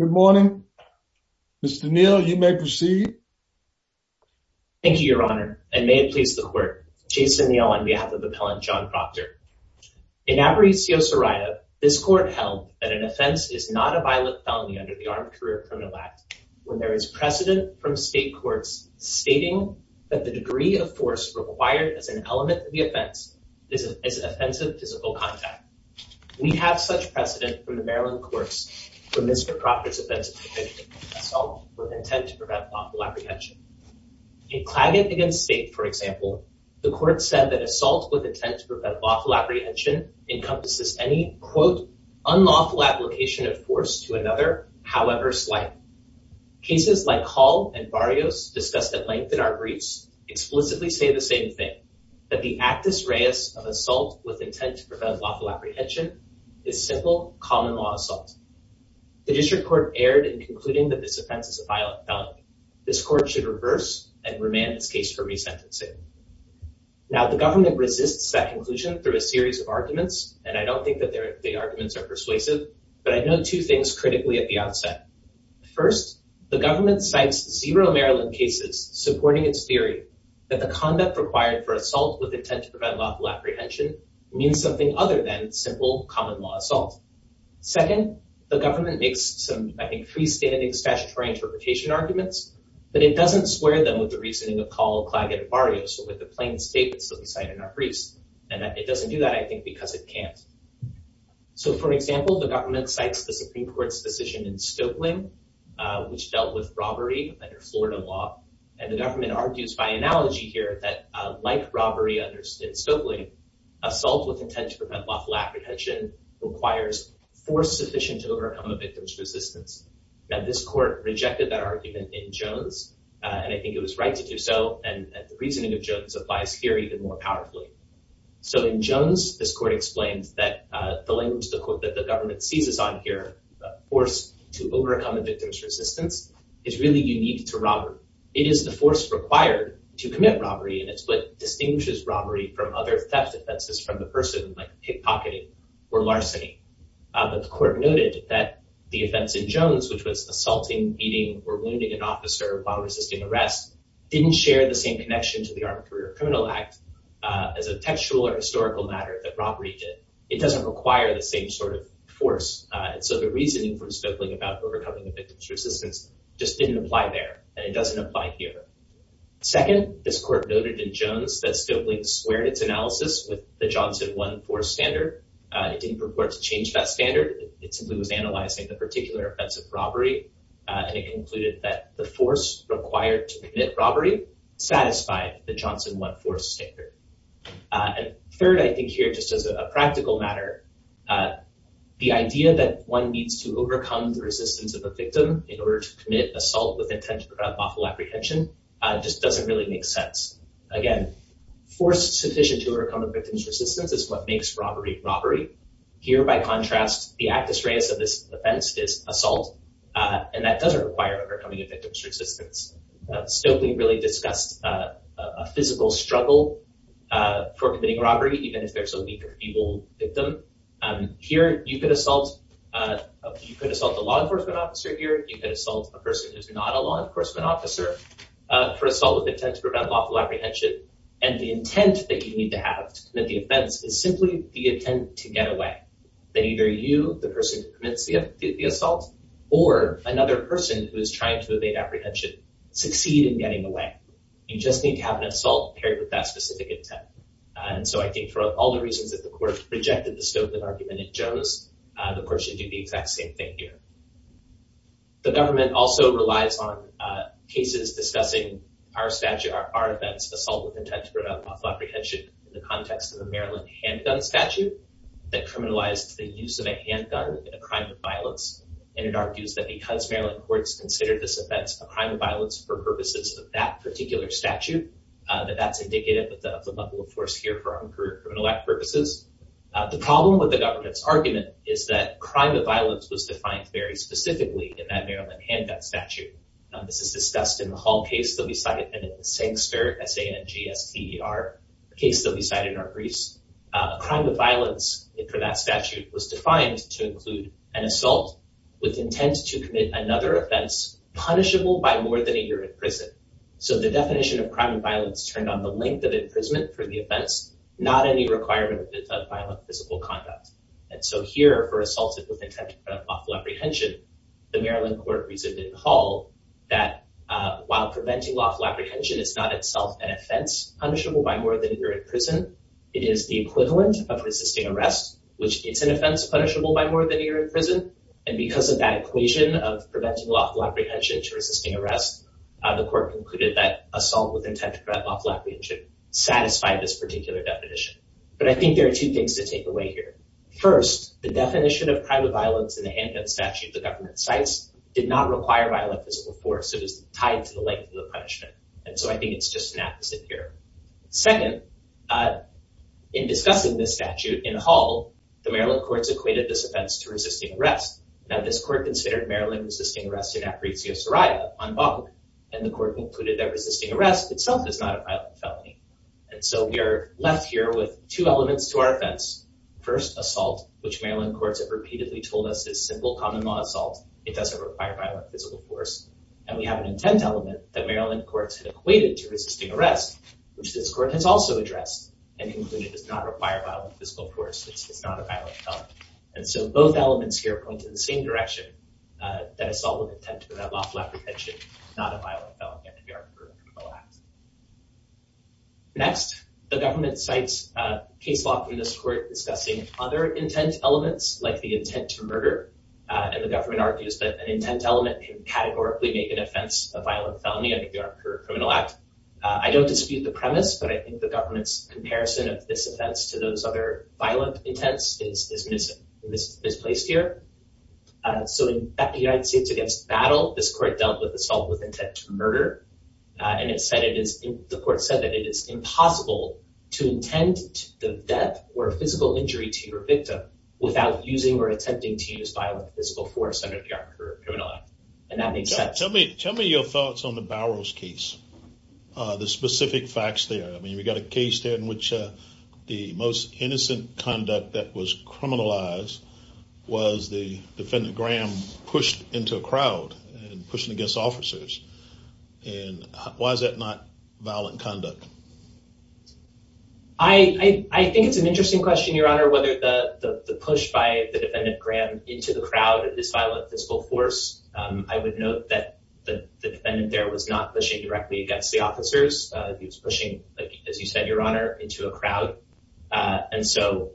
Good morning. Mr. Neal, you may proceed. Thank you, your honor, and may it please the court. Jason Neal on behalf of Appellant John Proctor. In Aparicio-Soraya, this court held that an offense is not a violent felony under the Armed Career Criminal Act when there is precedent from state courts stating that the degree of force required as an element of the offense is an offensive physical contact. We have such precedent from the Maryland courts for Mr. Proctor's offense of assault with intent to prevent lawful apprehension. In Claggett v. State, for example, the court said that assault with intent to prevent lawful apprehension encompasses any, quote, unlawful application of force to another, however slight. Cases like Hall v. Barrios, discussed at length in our briefs, explicitly say the same thing, that the actus reus of assault with intent to prevent lawful apprehension is simple common law assault. The district court erred in concluding that this offense is a violent felony. This court should reverse and remand its case for resentencing. Now, the government resists that conclusion through a series of arguments, and I don't think that the arguments are persuasive, but I know two things critically at the outset. First, the government cites zero Maryland cases supporting its theory that the conduct required for assault with intent to prevent lawful apprehension means something other than simple common law assault. Second, the government makes some, I think, freestanding statutory interpretation arguments, but it doesn't swear them with the reasoning of Hall, Claggett, and Barrios, or with the plain statements that we cite in our briefs. And it doesn't do that, I think, because it can't. So, for example, the government cites the Supreme Court's decision in Stokely, which dealt with robbery under Florida law, and the government argues by analogy here that, like robbery understood in Stokely, assault with intent to prevent lawful apprehension requires force sufficient to overcome a victim's resistance. Now, this court rejected that argument in Jones, and I think it was right to do so, and the reasoning of Jones applies here even more powerfully. So, in Jones, this court explains that the language, the quote that the government seizes on here, the force to overcome a victim's resistance, is really unique to robbery. It is the force required to commit robbery, and it's what distinguishes robbery from other theft offenses from the person, like pickpocketing or larceny. But the court noted that the offense in Jones, which was assaulting, beating, or wounding an officer while resisting arrest, didn't share the same connection to the Armed Career Criminal Act as a textual or historical matter that robbery did. It doesn't require the same sort of force. So, the reasoning from Stokely about overcoming a victim's resistance just didn't apply there, and it doesn't apply here. Second, this court noted in Jones that Stokely squared its analysis with the Johnson 1-4 standard. It didn't purport to change that standard. It simply was analyzing the particular offense of robbery, and it concluded that the force required to commit robbery satisfied the Johnson 1-4 standard. Third, I think here, just as a practical matter, the idea that one needs to overcome the resistance of a victim in order to commit assault with intent to prevent lawful apprehension just doesn't really make sense. Again, force sufficient to overcome a victim's resistance is what makes robbery robbery. Here, by contrast, the actus reus of this offense is assault, and that doesn't require overcoming a victim's resistance. Stokely really discussed a physical struggle for committing assault. Here, you could assault a law enforcement officer. Here, you could assault a person who's not a law enforcement officer for assault with intent to prevent lawful apprehension, and the intent that you need to have to commit the offense is simply the intent to get away, that either you, the person who commits the assault, or another person who is trying to evade apprehension succeed in getting away. You just need to have an assault paired with that argument in Jones. Of course, you do the exact same thing here. The government also relies on cases discussing our statute, our events, assault with intent to prevent lawful apprehension, in the context of the Maryland handgun statute that criminalized the use of a handgun in a crime of violence. It argues that because Maryland courts considered this event a crime of violence for purposes of that particular statute, that that's indicative of the level of force here for our career criminal act purposes. The problem with the government's argument is that crime of violence was defined very specifically in that Maryland handgun statute. This is discussed in the Hall case that we cited and in the Sankster, S-A-N-G-S-T-E-R case that we cited in our briefs. A crime of violence for that statute was defined to include an assault with intent to commit another offense punishable by more than a year in prison. The definition of crime of violence turned on the length of imprisonment for the offense, not any requirement of violent physical conduct. Here, for assault with intent to prevent lawful apprehension, the Maryland court resumed in the Hall that while preventing lawful apprehension is not itself an offense punishable by more than a year in prison, it is the equivalent of resisting arrest, which it's an offense punishable by more than a year in prison. Because of that equation of preventing lawful apprehension to resisting arrest, the court concluded that assault with intent to prevent lawful apprehension satisfied this particular definition. But I think there are two things to take away here. First, the definition of crime of violence in the handgun statute the government cites did not require violent physical force. It was tied to the length of the punishment. And so I think it's just an apposite here. Second, in discussing this statute in Hall, the Maryland courts equated this offense to resisting arrest. Now, this court considered Maryland resisting arrest in apresia soria on bond, and the court concluded that resisting arrest itself is not a violent felony. And so we are left here with two elements to our offense. First, assault, which Maryland courts have repeatedly told us is simple common law assault. It doesn't require violent physical force. And we have an intent element that Maryland courts had equated to resisting arrest, which this court has also addressed and concluded does not require violent physical force. It's not a violent felony. And so both elements here point in the same direction, that assault with intent without lawful apprehension is not a violent felony under the Armed Career Criminal Act. Next, the government cites a case law from this court discussing other intent elements, like the intent to murder. And the government argues that an intent element can categorically make an offense a violent felony under the Armed Career Criminal Act. I don't dispute the premise, but I think the government's comparison of this offense to those other violent intents is misplaced here. So in United States against battle, this court dealt with assault with intent to murder, and the court said that it is impossible to intend the death or physical injury to your victim without using or attempting to use violent physical force under the Armed Career Criminal Act. And that makes sense. Tell me your thoughts on the Bowers case, the specific facts there. I mean, we got a case there in which the most innocent conduct that was criminalized was the defendant Graham pushed into a crowd and pushing against officers. And why is that not violent conduct? I think it's an interesting question, Your Honor, whether the push by the defendant Graham into the crowd of this violent physical force. I would note that the defendant there was not pushing directly against the officers. He was pushing, as you said, Your Honor, into a crowd. And so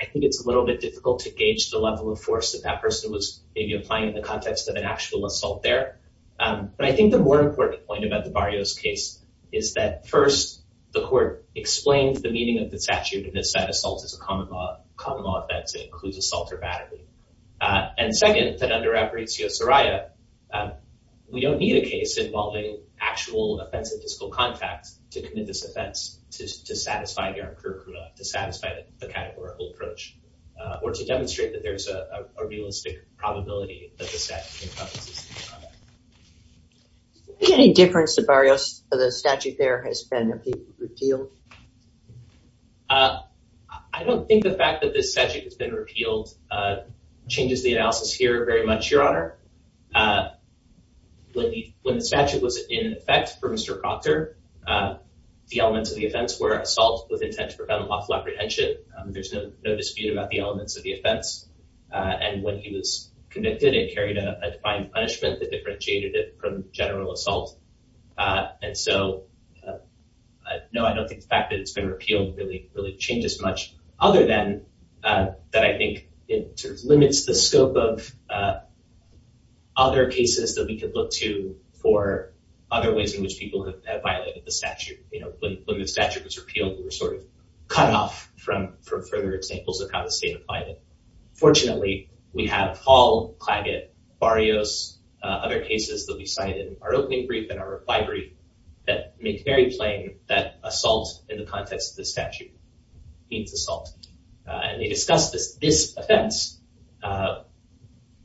I think it's a little bit difficult to gauge the level of force that that person was maybe applying in the context of an actual assault there. But I think the more important point about the Barrios case is that, first, the court explained the meaning of the statute in this that assault is a common law offense. It includes assault or battery. And second, that under Apparitio Soraya, we don't need a case involving actual offensive physical contact to satisfy Garam Kerkula, to satisfy the categorical approach or to demonstrate that there's a realistic probability that the statute encompasses this kind of thing. Is there any difference to Barrios that the statute there has been repealed? I don't think the fact that this statute has been repealed changes the analysis here very much, Your Honor. When the statute was in effect for Mr. Proctor, the elements of the offense were assault with intent to prevent unlawful apprehension. There's no dispute about the elements of the offense. And when he was convicted, it carried a defined punishment that differentiated it from general assault. And so, no, I don't think the fact that it's been repealed really changes much, other than that I think it limits the scope of other cases that we could look to for other ways in which people have violated the statute. When the statute was repealed, we were sort of cut off from further examples of how the state had violated it. Fortunately, we have Hall, Claggett, Barrios, other cases that we cite in our opening brief and our reply brief that make very plain that assault in the context of the statute means assault. And they discuss this offense,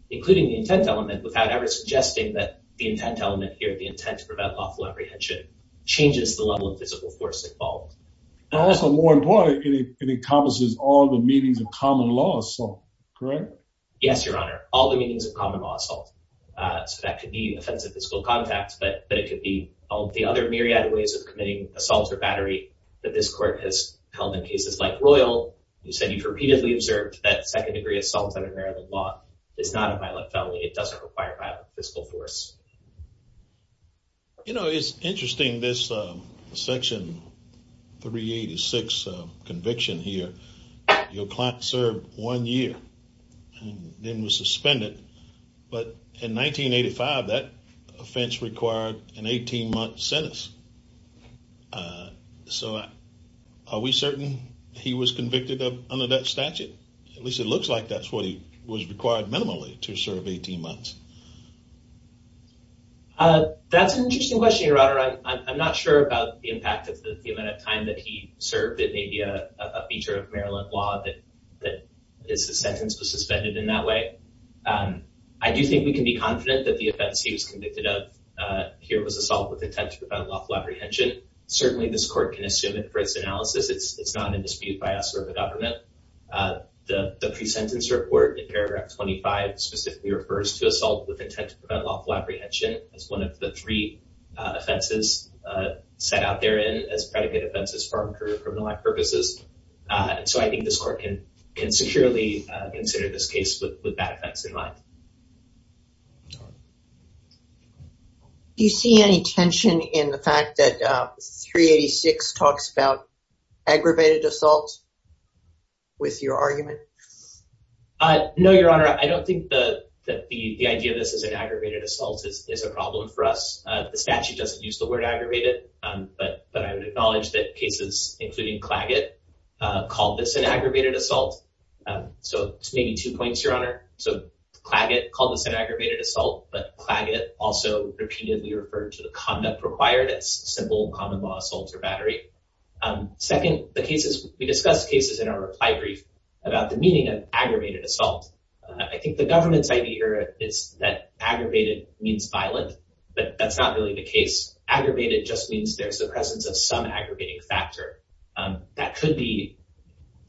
including the intent element, without ever suggesting that the intent element here, the intent to prevent unlawful apprehension, changes the level of physical force involved. And also, more importantly, it encompasses all the meanings of common law assault, correct? Yes, Your Honor. All the meanings of common law assault. So that could be offensive physical contact, but it could be all the other myriad ways of committing assaults or battery that this court has held in cases like Royal, who said you've repeatedly observed that second degree assault under Maryland law is not a violent felony. It doesn't require violent physical force. You know, it's interesting, this section 386 conviction here, your client served one year and then was suspended. But in 1985, that offense required an 18-month sentence. So are we certain he was convicted under that statute? At least it looks like that's what he required minimally to serve 18 months. That's an interesting question, Your Honor. I'm not sure about the impact of the amount of time that he served. It may be a feature of Maryland law that his sentence was suspended in that way. I do think we can be confident that the offense he was convicted of here was assault with intent to prevent unlawful apprehension. Certainly this court can assume it for its analysis. It's not in dispute by us or the 25 specifically refers to assault with intent to prevent lawful apprehension as one of the three offenses set out there in as predicate offenses for criminal purposes. So I think this court can securely consider this case with that offense in mind. Do you see any tension in the fact that 386 talks about aggravated assault with your argument? No, Your Honor. I don't think that the idea of this as an aggravated assault is a problem for us. The statute doesn't use the word aggravated, but I would acknowledge that cases including Claggett called this an aggravated assault. So maybe two points, Your Honor. So Claggett called this an aggravated assault, but Claggett also repeatedly referred to the conduct required as simple common assault or battery. Second, we discussed cases in our reply brief about the meaning of aggravated assault. I think the government's idea is that aggravated means violent, but that's not really the case. Aggravated just means there's the presence of some aggravating factor. That could be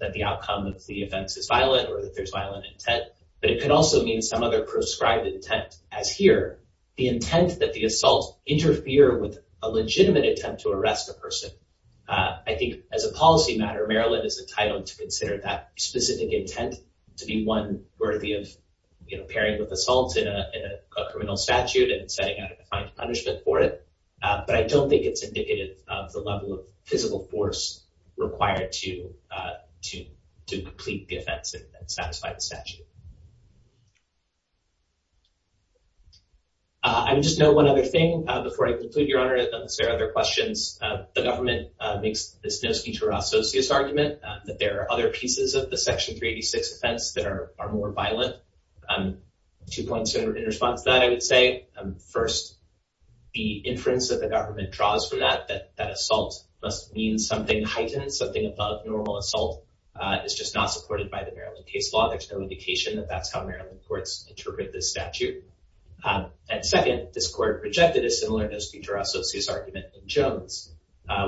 that the outcome of the offense is violent or that there's violent intent, but it can also mean some other prescribed intent as here, the intent that the assault interfere with a legitimate attempt to arrest a person. I think as a policy matter, Maryland is entitled to consider that specific intent to be one worthy of, you know, pairing with assault in a criminal statute and setting out a defined punishment for it. But I don't think it's indicative of the level of physical force required to complete the offense and satisfy the statute. I just know one other thing before I conclude, Your Honor, unless there are other questions, the government makes this No Skintura Associus argument that there are other pieces of the Section 386 offense that are more violent. Two points in response to that, I would say. First, the inference that the government draws from that, that assault must mean something heightened, something above normal assault, is just not supported by the Maryland case law. There's no indication that that's how Maryland courts interpret this statute. And second, this court rejected a similar No Skintura Associus argument in Jones,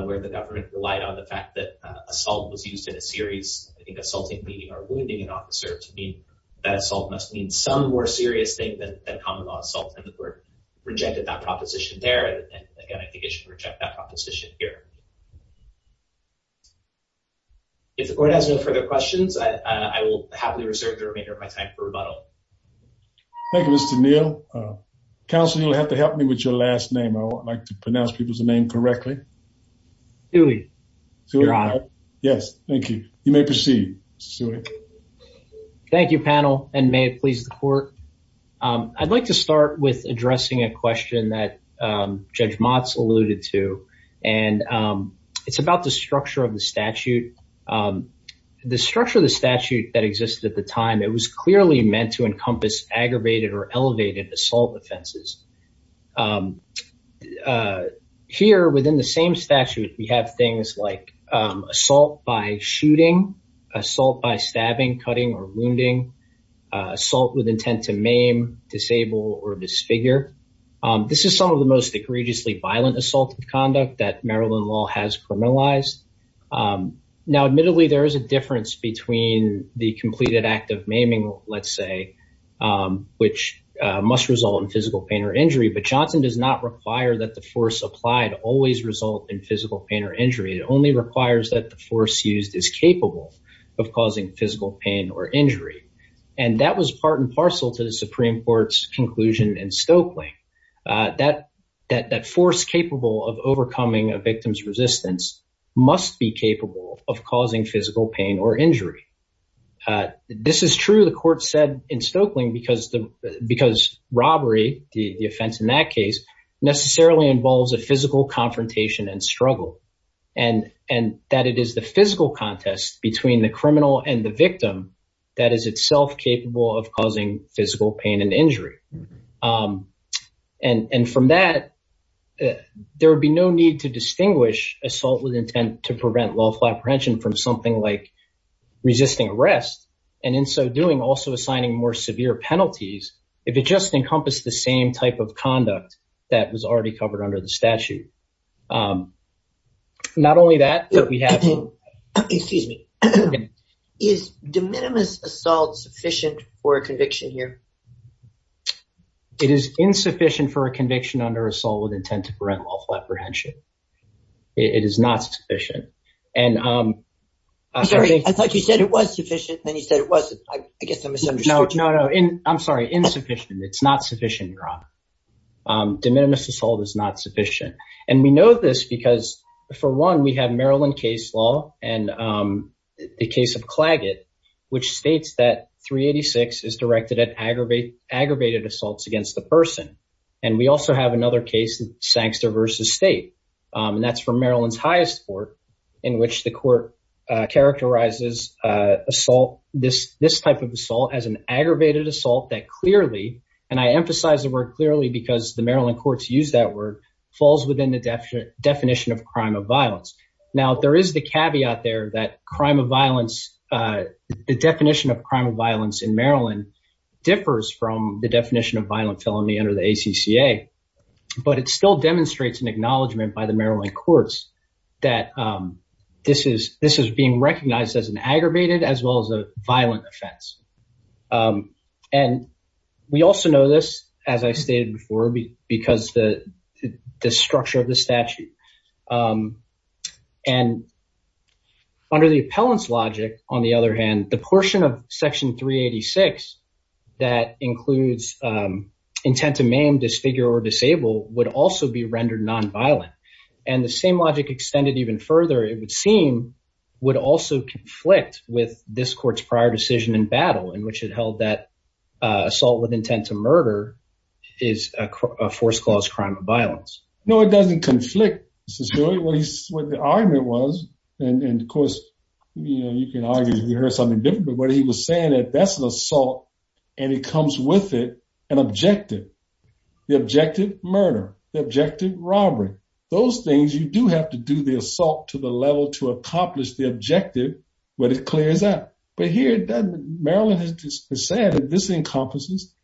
where the government relied on the fact that assault was used in a series, I think, assaulting, beating, or wounding an officer to mean that assault must mean some more serious thing than common law assault. And the court rejected that proposition there. And again, I think it should reject that proposition here. If the court has no further questions, I will happily reserve the remainder of my time for rebuttal. Thank you, Mr. Neal. Counselor, you'll have to help me with your last name. I would like to pronounce people's name correctly. Tewi. Your Honor. Yes, thank you. You may proceed, Mr. Tewi. Thank you, panel, and may it please the court. I'd like to start with addressing a question that it's about the structure of the statute. The structure of the statute that existed at the time, it was clearly meant to encompass aggravated or elevated assault offenses. Here, within the same statute, we have things like assault by shooting, assault by stabbing, cutting, or wounding, assault with intent to maim, disable, or disfigure. This is some of the most egregiously violent assault conduct that Maryland law has criminalized. Now, admittedly, there is a difference between the completed act of maiming, let's say, which must result in physical pain or injury. But Johnson does not require that the force applied always result in physical pain or injury. It only requires that the force used is capable of causing physical pain or injury. And that was part and parcel to the Supreme Court's conclusion in Stokely. That force capable of overcoming a victim's resistance must be capable of causing physical pain or injury. This is true, the court said in Stokely, because robbery, the offense in that case, necessarily involves a physical confrontation and struggle. And that it is the physical contest between the criminal and the victim that is itself capable of causing physical pain and injury. And from that, there would be no need to distinguish assault with intent to prevent lawful apprehension from something like resisting arrest, and in so doing, also assigning more severe penalties if it just encompassed the same type of conduct that was already covered under the statute. Not only that, but we have... Excuse me. Is de minimis assault sufficient for conviction here? It is insufficient for a conviction under assault with intent to prevent lawful apprehension. It is not sufficient. I'm sorry, I thought you said it was sufficient, then you said it wasn't. I guess I misunderstood you. No, no. I'm sorry. Insufficient. It's not sufficient, Rob. De minimis assault is not sufficient. And we know this because, for one, we have Maryland case law, the case of Claggett, which states that 386 is directed at aggravated assaults against the person. And we also have another case, Sankster v. State, and that's for Maryland's highest court, in which the court characterizes assault, this type of assault, as an aggravated assault that clearly, and I emphasize the word clearly because the Maryland courts use that word, falls within the definition of crime of violence. Now, there is the caveat there that crime of violence, the definition of crime of violence in Maryland differs from the definition of violent felony under the ACCA, but it still demonstrates an acknowledgement by the Maryland courts that this is being recognized as an aggravated as well as a violent offense. And we also know this, as I stated before, because the structure of the statute. And under the appellant's logic, on the other hand, the portion of section 386 that includes intent to maim, disfigure, or disable would also be rendered non-violent. And the same logic extended even further, it would seem, would also conflict with this court's prior decision in battle, in which it held that assault with intent to murder is a force clause crime of violence. No, it doesn't conflict. What the argument was, and of course, you know, you can argue you heard something different, but he was saying that that's an assault and it comes with it an objective. The objective, murder. The objective, robbery. Those things, you do have to do the assault to the level to accomplish the objective when it clears out. But here, Maryland has said that this encompasses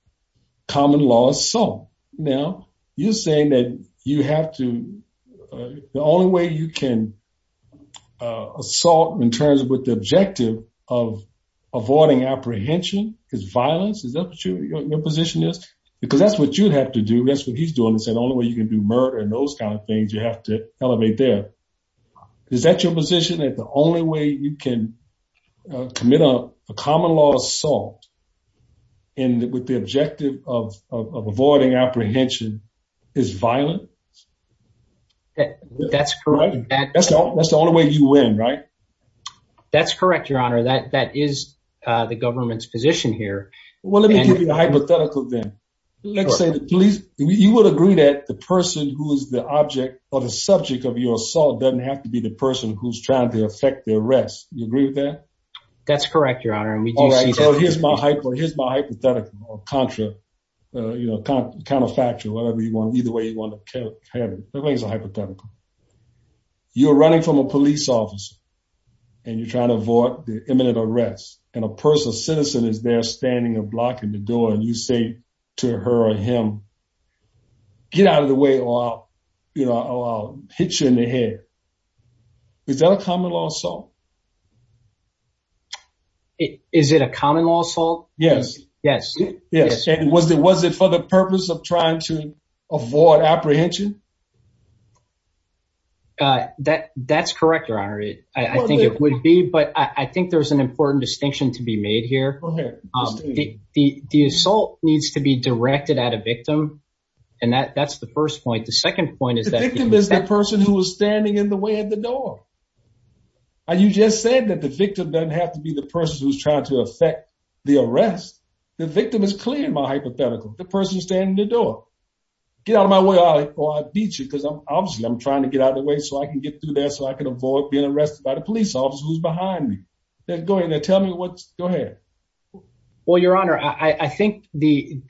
common law assault. Now, you're saying that you have to, the only way you can assault in terms of what the objective of avoiding apprehension is violence, is that what your position is? Because that's what you'd have to do, that's what he's doing, is the only way you can do murder and those kind of things, you have to elevate there. Is that your position, that the only way you can commit a common law assault and with the objective of avoiding apprehension is violent? That's correct. That's the only way you win, right? That's correct, your honor. That is the government's position here. Well, let me give you a hypothetical then. Let's say the police, you would agree that the person who is the object or the subject of your assault doesn't have to be the person who's trying to affect the arrest. You agree with that? That's correct, your honor. Here's my hypothetical or contra, you know, counterfactual, whatever you want. Either way, it's a hypothetical. You're running from a police officer and you're trying to avoid the imminent arrest and a person, a citizen is there standing or blocking the door and you say to her or him, get out of the way or I'll hit you in the head. Is that a common law assault? Is it a common law assault? Yes. Yes. Yes. And was it for the purpose of trying to avoid apprehension? That's correct, your honor. I think it would be, but I think there's an important distinction to be made here. The assault needs to be directed at a victim. And that's the first point. The second point is that- The victim is the person who was standing in the way of the door. You just said that the victim doesn't have to be the person who's trying to affect the arrest. The victim is clear in my hypothetical, the person standing in the door. Get out of my way or I'll beat you because obviously I'm trying to get out of the way so I can get through there so I can avoid being arrested by the police officer who's behind me. Then go ahead and tell me what's- go ahead. Well, your honor, I think the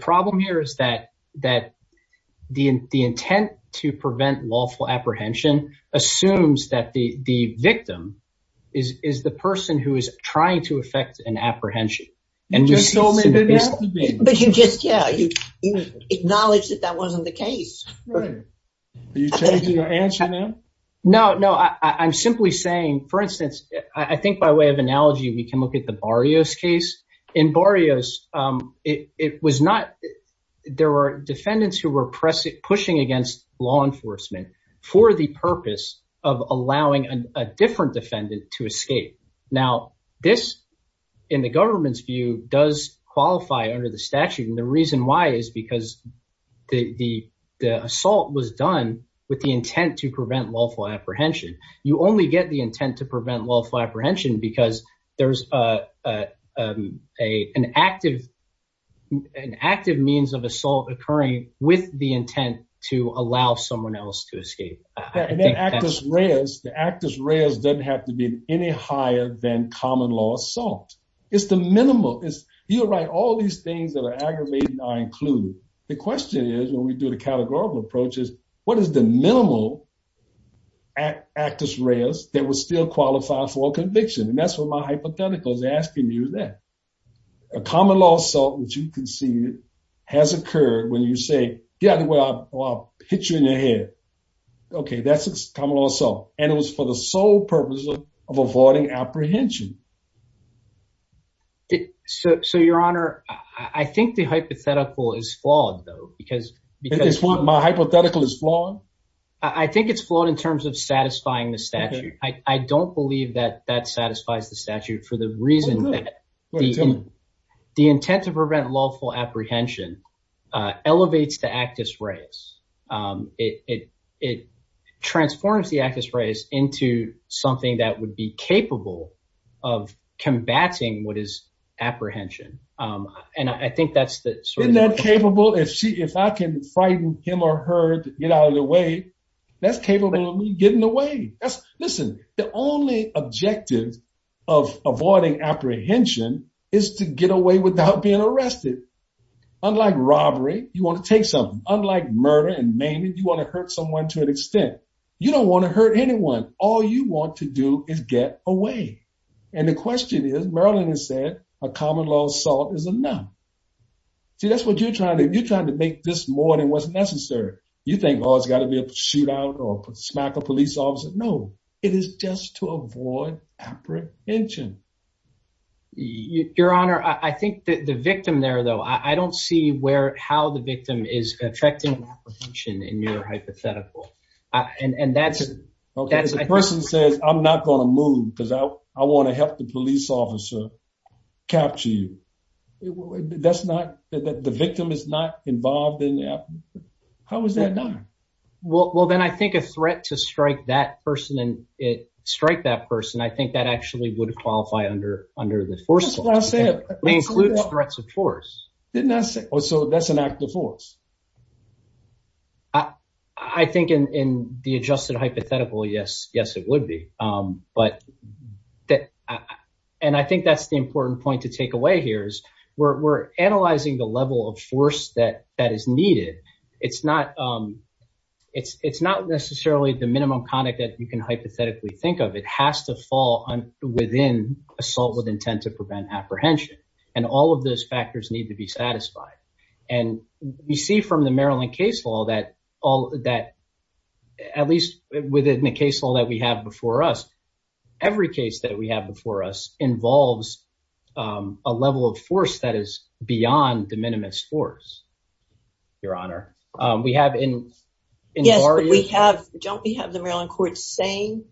problem here is that the intent to prevent lawful apprehension assumes that the victim is the person who is trying to affect an apprehension. You just told me that now? But you just, yeah, you acknowledged that that wasn't the case. Right. Are you changing your answer now? No, no. I'm simply saying, for instance, I think by way of analogy, we can look at the Barrios case. In Barrios, it was not- there were defendants who were pushing against law enforcement for the purpose of allowing a different defendant to escape. Now, this, in the government's view, does qualify under the statute. And the reason why is because the assault was done with the intent to prevent lawful apprehension. You only get the intent to prevent lawful apprehension because there's an active means of assault occurring with the intent to allow someone else to escape. And then Actus Reus, the Actus Reus doesn't have to be any higher than common law assault. It's the minimal. You're right, all these things that are aggravating are included. The question is, when we do the categorical approach, is what is the minimal Actus Reus that would still qualify for conviction? And that's what my hypothetical is asking you then. A common law assault, which you conceded, has occurred when you say, yeah, well, I'll hit you in the head. Okay, that's a common law assault. And it was for the sole purpose of avoiding apprehension. So, your honor, I think the hypothetical is flawed, because... My hypothetical is flawed? I think it's flawed in terms of satisfying the statute. I don't believe that that satisfies the statute for the reason that the intent to prevent lawful apprehension elevates the Actus Reus. It transforms the Actus Reus into something that would be capable of combating what is apprehension. And I think that's the... Isn't that capable? If I can frighten him or her to get out of the way, that's capable of me getting away. Listen, the only objective of avoiding apprehension is to get away without being arrested. Unlike robbery, you want to take something. Unlike murder and maiming, you want to hurt someone to an extent. You don't want to hurt anyone. All you want to do is get away. And the question is, a common law assault is a no. See, that's what you're trying to do. You're trying to make this more than what's necessary. You think, oh, it's got to be a shootout or smack a police officer. No, it is just to avoid apprehension. Your honor, I think the victim there, though, I don't see how the victim is affecting apprehension in your hypothetical. And that's... If the person says, I'm not going to move because I want to help the police officer capture you, that's not... The victim is not involved in the... How is that done? Well, then I think a threat to strike that person, I think that actually would qualify under the first law. That's what I said. It includes threats of force. Didn't I say... Oh, so that's an act of force? I think in the adjusted hypothetical, yes, it would be. And I think that's the important point to take away here is we're analyzing the level of force that is needed. It's not necessarily the minimum conduct that you can hypothetically think of. It has to fall within assault with intent to prevent apprehension. And all of those factors need to be satisfied. And we see that from the Maryland case law that, at least within the case law that we have before us, every case that we have before us involves a level of force that is beyond the minimus force, your honor. We have in... Yes, but we have... Don't we have the Maryland court saying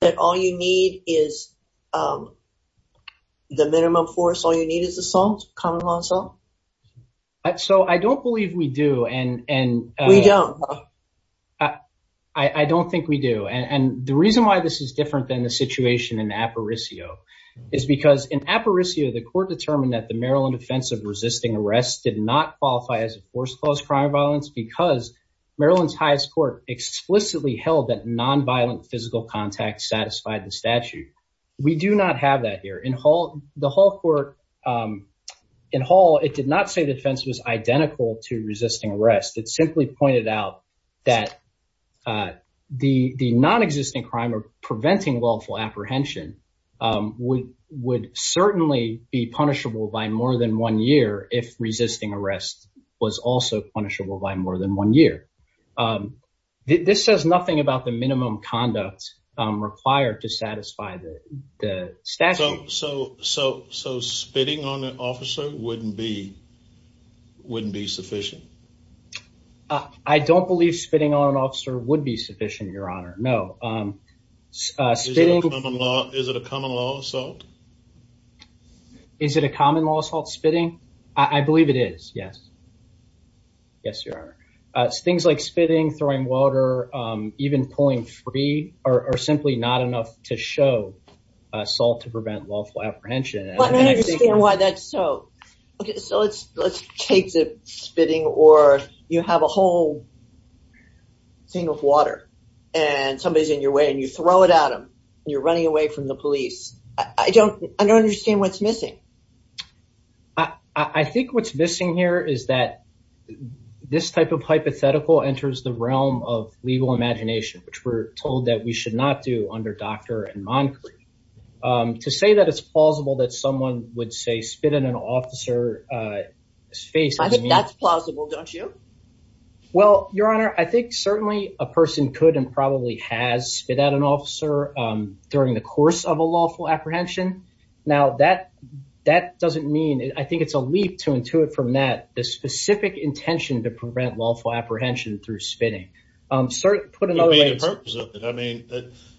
that all you need is the minimum force, all you need is assault, common law assault? I don't believe we do and... We don't. I don't think we do. And the reason why this is different than the situation in Aparicio is because in Aparicio, the court determined that the Maryland Offense of Resisting Arrest did not qualify as a forced closed crime of violence because Maryland's highest court explicitly held that nonviolent physical contact satisfied the statute. We do not have that here. The Hall court... In Hall, it did not say the offense was identical to resisting arrest. It simply pointed out that the non-existing crime of preventing lawful apprehension would certainly be punishable by more than one year if resisting arrest was also punishable by more than one year. This says nothing about the minimum conduct required to satisfy the statute. So spitting on an officer wouldn't be sufficient? I don't believe spitting on an officer would be sufficient, your honor. No. Is it a common law assault? Is it a common law assault, spitting? I believe it is, yes. Yes, your honor. Things like spitting, throwing water, even pulling free are simply not enough to show assault to prevent lawful apprehension. I don't understand why that's so. Okay, so let's take the spitting or you have a whole thing of water and somebody's in your way and you throw it at them and you're running away from the police. I don't understand what's missing. I think what's missing here is that this type of hypothetical enters the realm of legal imagination, which we're told that we should not do under doctor and monarchy. To say that it's plausible that someone would say spit in an officer's face. I think that's plausible, don't you? Well, your honor, I think certainly a person could and probably has spit at an officer during the course of a lawful apprehension. Now that doesn't mean, I think it's a leap to intuit from that, the specific intention to prevent lawful apprehension through spitting. Sir, put another way. I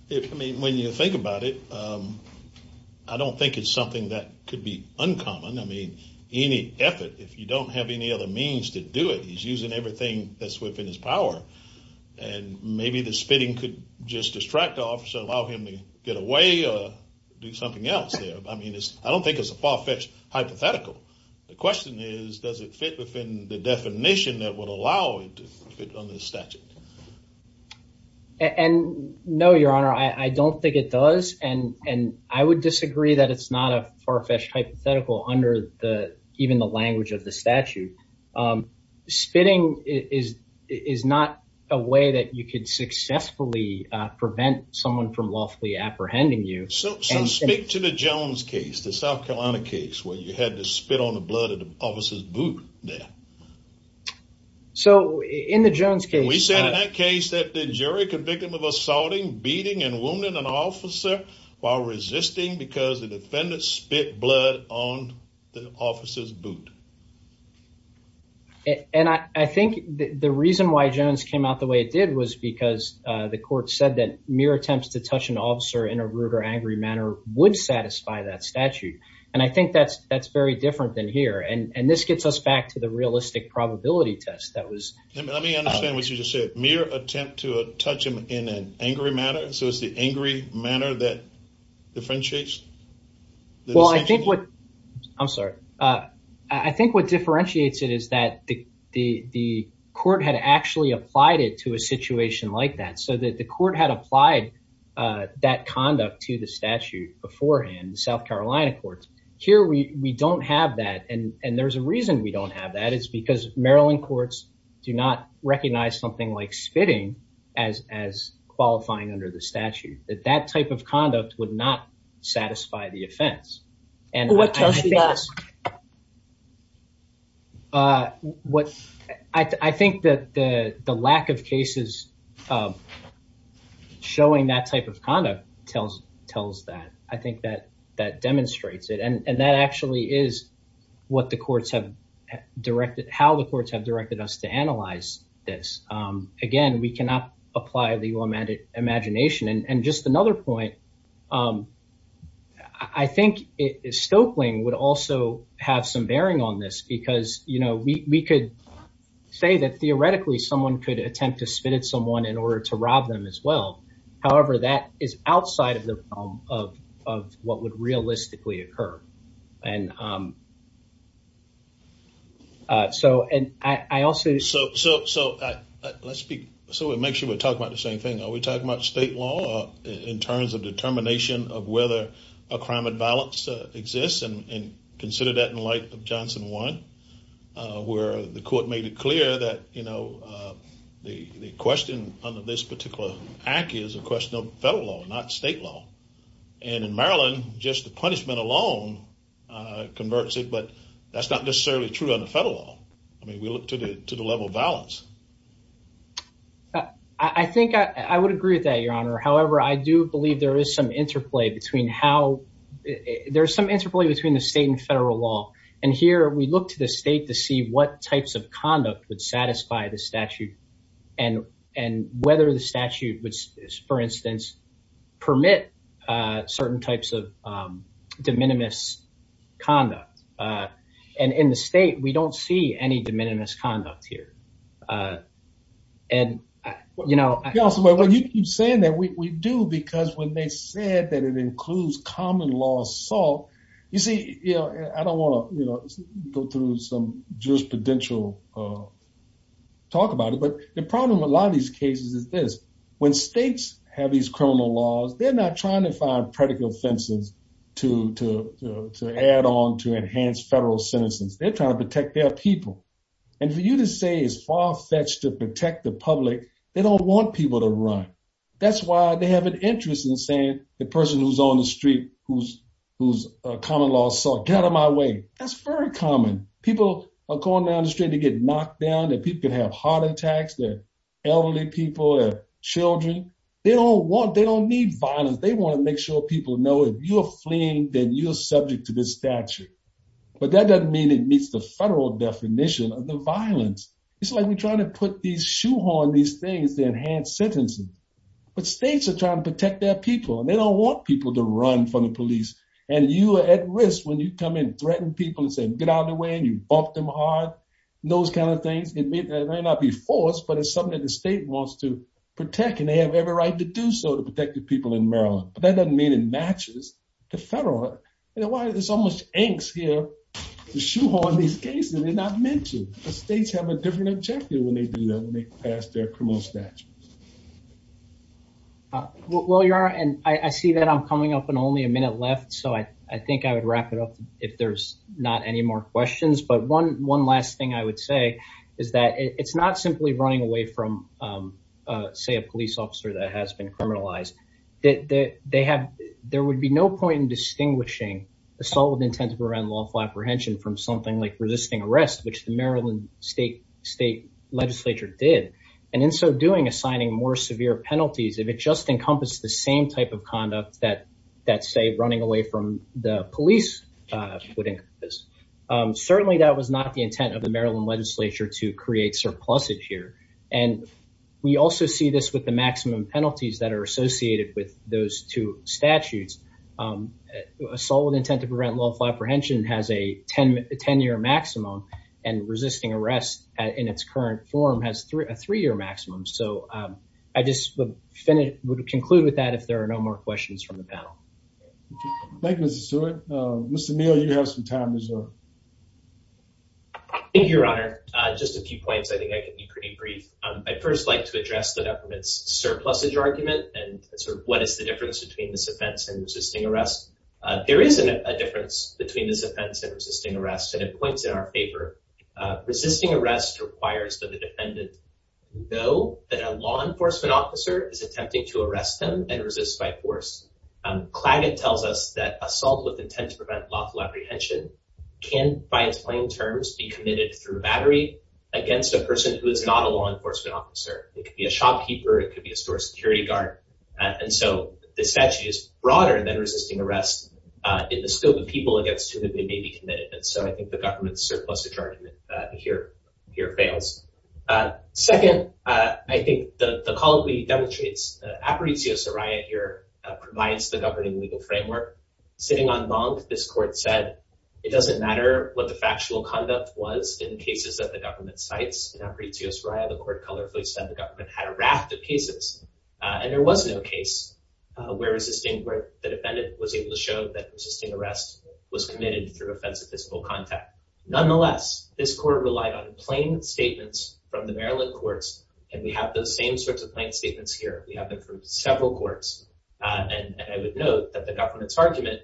mean, when you think about it, I don't think it's something that could be uncommon. I mean, any effort, if you don't have any other means to do it, he's using everything that's within his power and maybe the spitting could just distract the officer, allow him to get away or do something else there. I mean, I don't think it's a far-fetched hypothetical. The question is, does it fit within the definition that would allow it to fit on this statute? And no, your honor, I don't think it does. And I would disagree that it's not a far-fetched hypothetical under even the language of the prevent someone from lawfully apprehending you. So speak to the Jones case, the South Carolina case, where you had to spit on the blood of the officer's boot there. So in the Jones case, we said in that case that the jury convicted of assaulting, beating and wounding an officer while resisting because the defendant spit blood on the officer's boot. And I think the reason why Jones came out the way it did was because the court said that mere attempts to touch an officer in a rude or angry manner would satisfy that statute. And I think that's very different than here. And this gets us back to the realistic probability test that was... Let me understand what you just said. Mere attempt to touch him in an angry manner. So it's the what differentiates it is that the court had actually applied it to a situation like that, so that the court had applied that conduct to the statute beforehand, the South Carolina courts. Here, we don't have that. And there's a reason we don't have that. It's because Maryland courts do not recognize something like spitting as qualifying under the statute, that that type of conduct would not satisfy the offense. What tells you that? I think that the lack of cases showing that type of conduct tells that. I think that that demonstrates it. And that actually is what the courts have directed, how the courts have directed. I think Stoeckling would also have some bearing on this, because we could say that theoretically someone could attempt to spit at someone in order to rob them as well. However, that is outside of the realm of what would realistically occur. And so, and I also... Let's speak... So it makes sure we're talking about the same thing. Are we talking about state law in terms of determination of whether a crime of violence exists? And consider that in light of Johnson 1, where the court made it clear that, you know, the question under this particular act is a question of federal law, not state law. And in Maryland, just the punishment alone converts it, but that's not necessarily true under federal law. I mean, we look to the level of violence. I think I would agree with that, Your Honor. However, I do believe there is some interplay between how... There's some interplay between the state and federal law. And here, we look to the state to see what types of conduct would satisfy the statute and whether the statute would, for instance, permit certain types of de minimis conduct. And in the state, we don't see any de minimis. And, you know... Well, you keep saying that. We do, because when they said that it includes common law assault... You see, I don't want to go through some jurisprudential talk about it, but the problem with a lot of these cases is this. When states have these criminal laws, they're not trying to find predicate offenses to add on to enhance federal sentences. They're trying to protect their people. And for you to say it's far-fetched to protect the public, they don't want people to run. That's why they have an interest in saying, the person who's on the street who's a common law assault, get out of my way. That's very common. People are going down the street to get knocked down, that people can have heart attacks, they're elderly people, they're children. They don't want... They don't need violence. They want to make sure people know if you're fleeing, then you're subject to this statute. But that doesn't mean it meets the federal definition of the violence. It's like we're trying to put these shoehorn, these things to enhance sentencing. But states are trying to protect their people, and they don't want people to run from the police. And you are at risk when you come in, threaten people and say, get out of the way, and you bump them hard, and those kinds of things. It may not be forced, but it's something that the state wants to protect, and they have every right to do so to protect the people in Maryland. But that doesn't mean it matches the federal... There's so much angst here to shoehorn these cases. They're not mentioned, but states have a different objective when they do that, when they pass their criminal statutes. Well, Yara, and I see that I'm coming up in only a minute left. So I think I would wrap it up if there's not any more questions. But one last thing I would say is that it's not simply running away from, say, a police officer that has been criminalized. There would be no point in assault with intent to prevent lawful apprehension from something like resisting arrest, which the Maryland state legislature did. And in so doing, assigning more severe penalties if it just encompassed the same type of conduct that, say, running away from the police would encompass. Certainly, that was not the intent of the Maryland legislature to create surplusage here. And we also see this with the maximum penalties that are associated with those two statutes. Assault with intent to prevent lawful apprehension has a 10-year maximum, and resisting arrest in its current form has a three-year maximum. So I just would conclude with that if there are no more questions from the panel. Thank you, Mr. Stewart. Mr. Neal, you have some time as well. Thank you, Your Honor. Just a few points. I think I can be pretty brief. I'd first like to address the defendant's surplusage argument and sort of what is the difference between this offense and resisting arrest. There is a difference between this offense and resisting arrest, and it points in our favor. Resisting arrest requires that the defendant know that a law enforcement officer is attempting to arrest them and resist by force. Claggett tells us that assault with intent to prevent lawful apprehension can, by its plain terms, be committed through battery against a lawkeeper. It could be a store security guard. And so the statute is broader than resisting arrest in the scope of people against whom it may be committed. And so I think the government's surplusage argument here fails. Second, I think the call that we demonstrate is that Aparecio Soraya here provides the governing legal framework. Sitting en banc, this court said it doesn't matter what the factual conduct was in cases that the government cites. In Aparecio Soraya, the court colorfully said the government had a raft of cases, and there was no case where the defendant was able to show that resisting arrest was committed through offensive physical contact. Nonetheless, this court relied on plain statements from the Maryland courts, and we have those same sorts of plain statements here. We have them from several courts, and I would note that the government's argument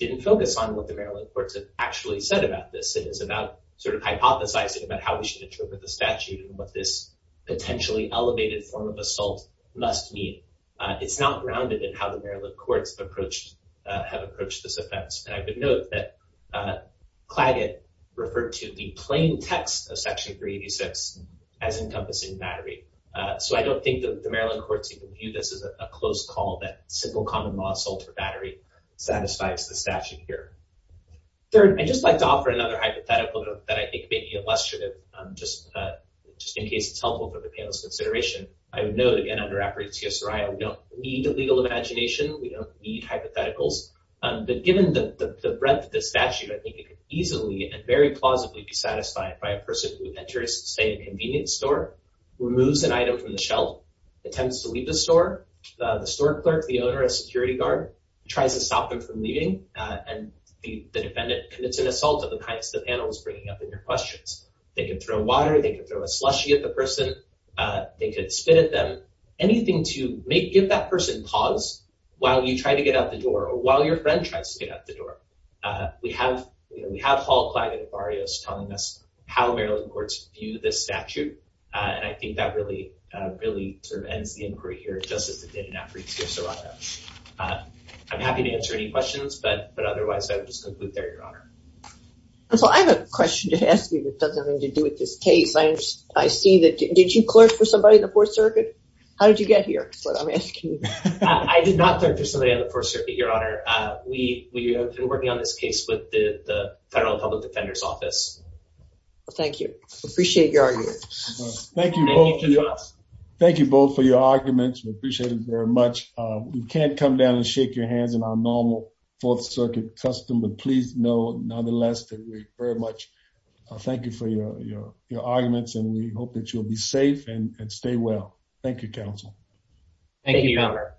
didn't focus on what the Maryland courts have actually said about this. It is about sort of hypothesizing about how we should interpret the statute and what this potentially elevated form of assault must mean. It's not grounded in how the Maryland courts have approached this offense. And I would note that Claggett referred to the plain text of section 386 as encompassing battery. So I don't think that the Maryland courts even view this as a close call that simple common law assault for battery satisfies the statute here. Third, I'd just like to offer another hypothetical that I think may be illustrative, just in case it's helpful for the panel's consideration. I would note, again, under Aparecio Soraya, we don't need a legal imagination. We don't need hypotheticals. But given the breadth of the statute, I think it could easily and very plausibly be satisfied by a person who enters, say, a convenience store, removes an item from the shelf, attempts to leave the store. The store is an assault of the kind that the panel is bringing up in your questions. They can throw water. They can throw a slushie at the person. They could spit at them. Anything to give that person pause while you try to get out the door or while your friend tries to get out the door. We have Hall, Claggett, and Barrios telling us how Maryland courts view this statute. And I think that really sort of ends the inquiry here, just as it did in Aparecio Soraya. I'm happy to answer any questions, but otherwise, I would just conclude there, Your Honor. So I have a question to ask you that doesn't have anything to do with this case. I see that, did you clerk for somebody in the Fourth Circuit? How did you get here? That's what I'm asking. I did not clerk for somebody on the Fourth Circuit, Your Honor. We have been working on this case with the Federal Public Defender's Office. Thank you. Appreciate your argument. Thank you both. Thank you both for your arguments. We appreciate it very much. We can't come down and shake your hands in our normal Fourth Circuit custom, but please know, nonetheless, that we very much thank you for your arguments and we hope that you'll be safe and stay well. Thank you, counsel. Thank you, Your Honor.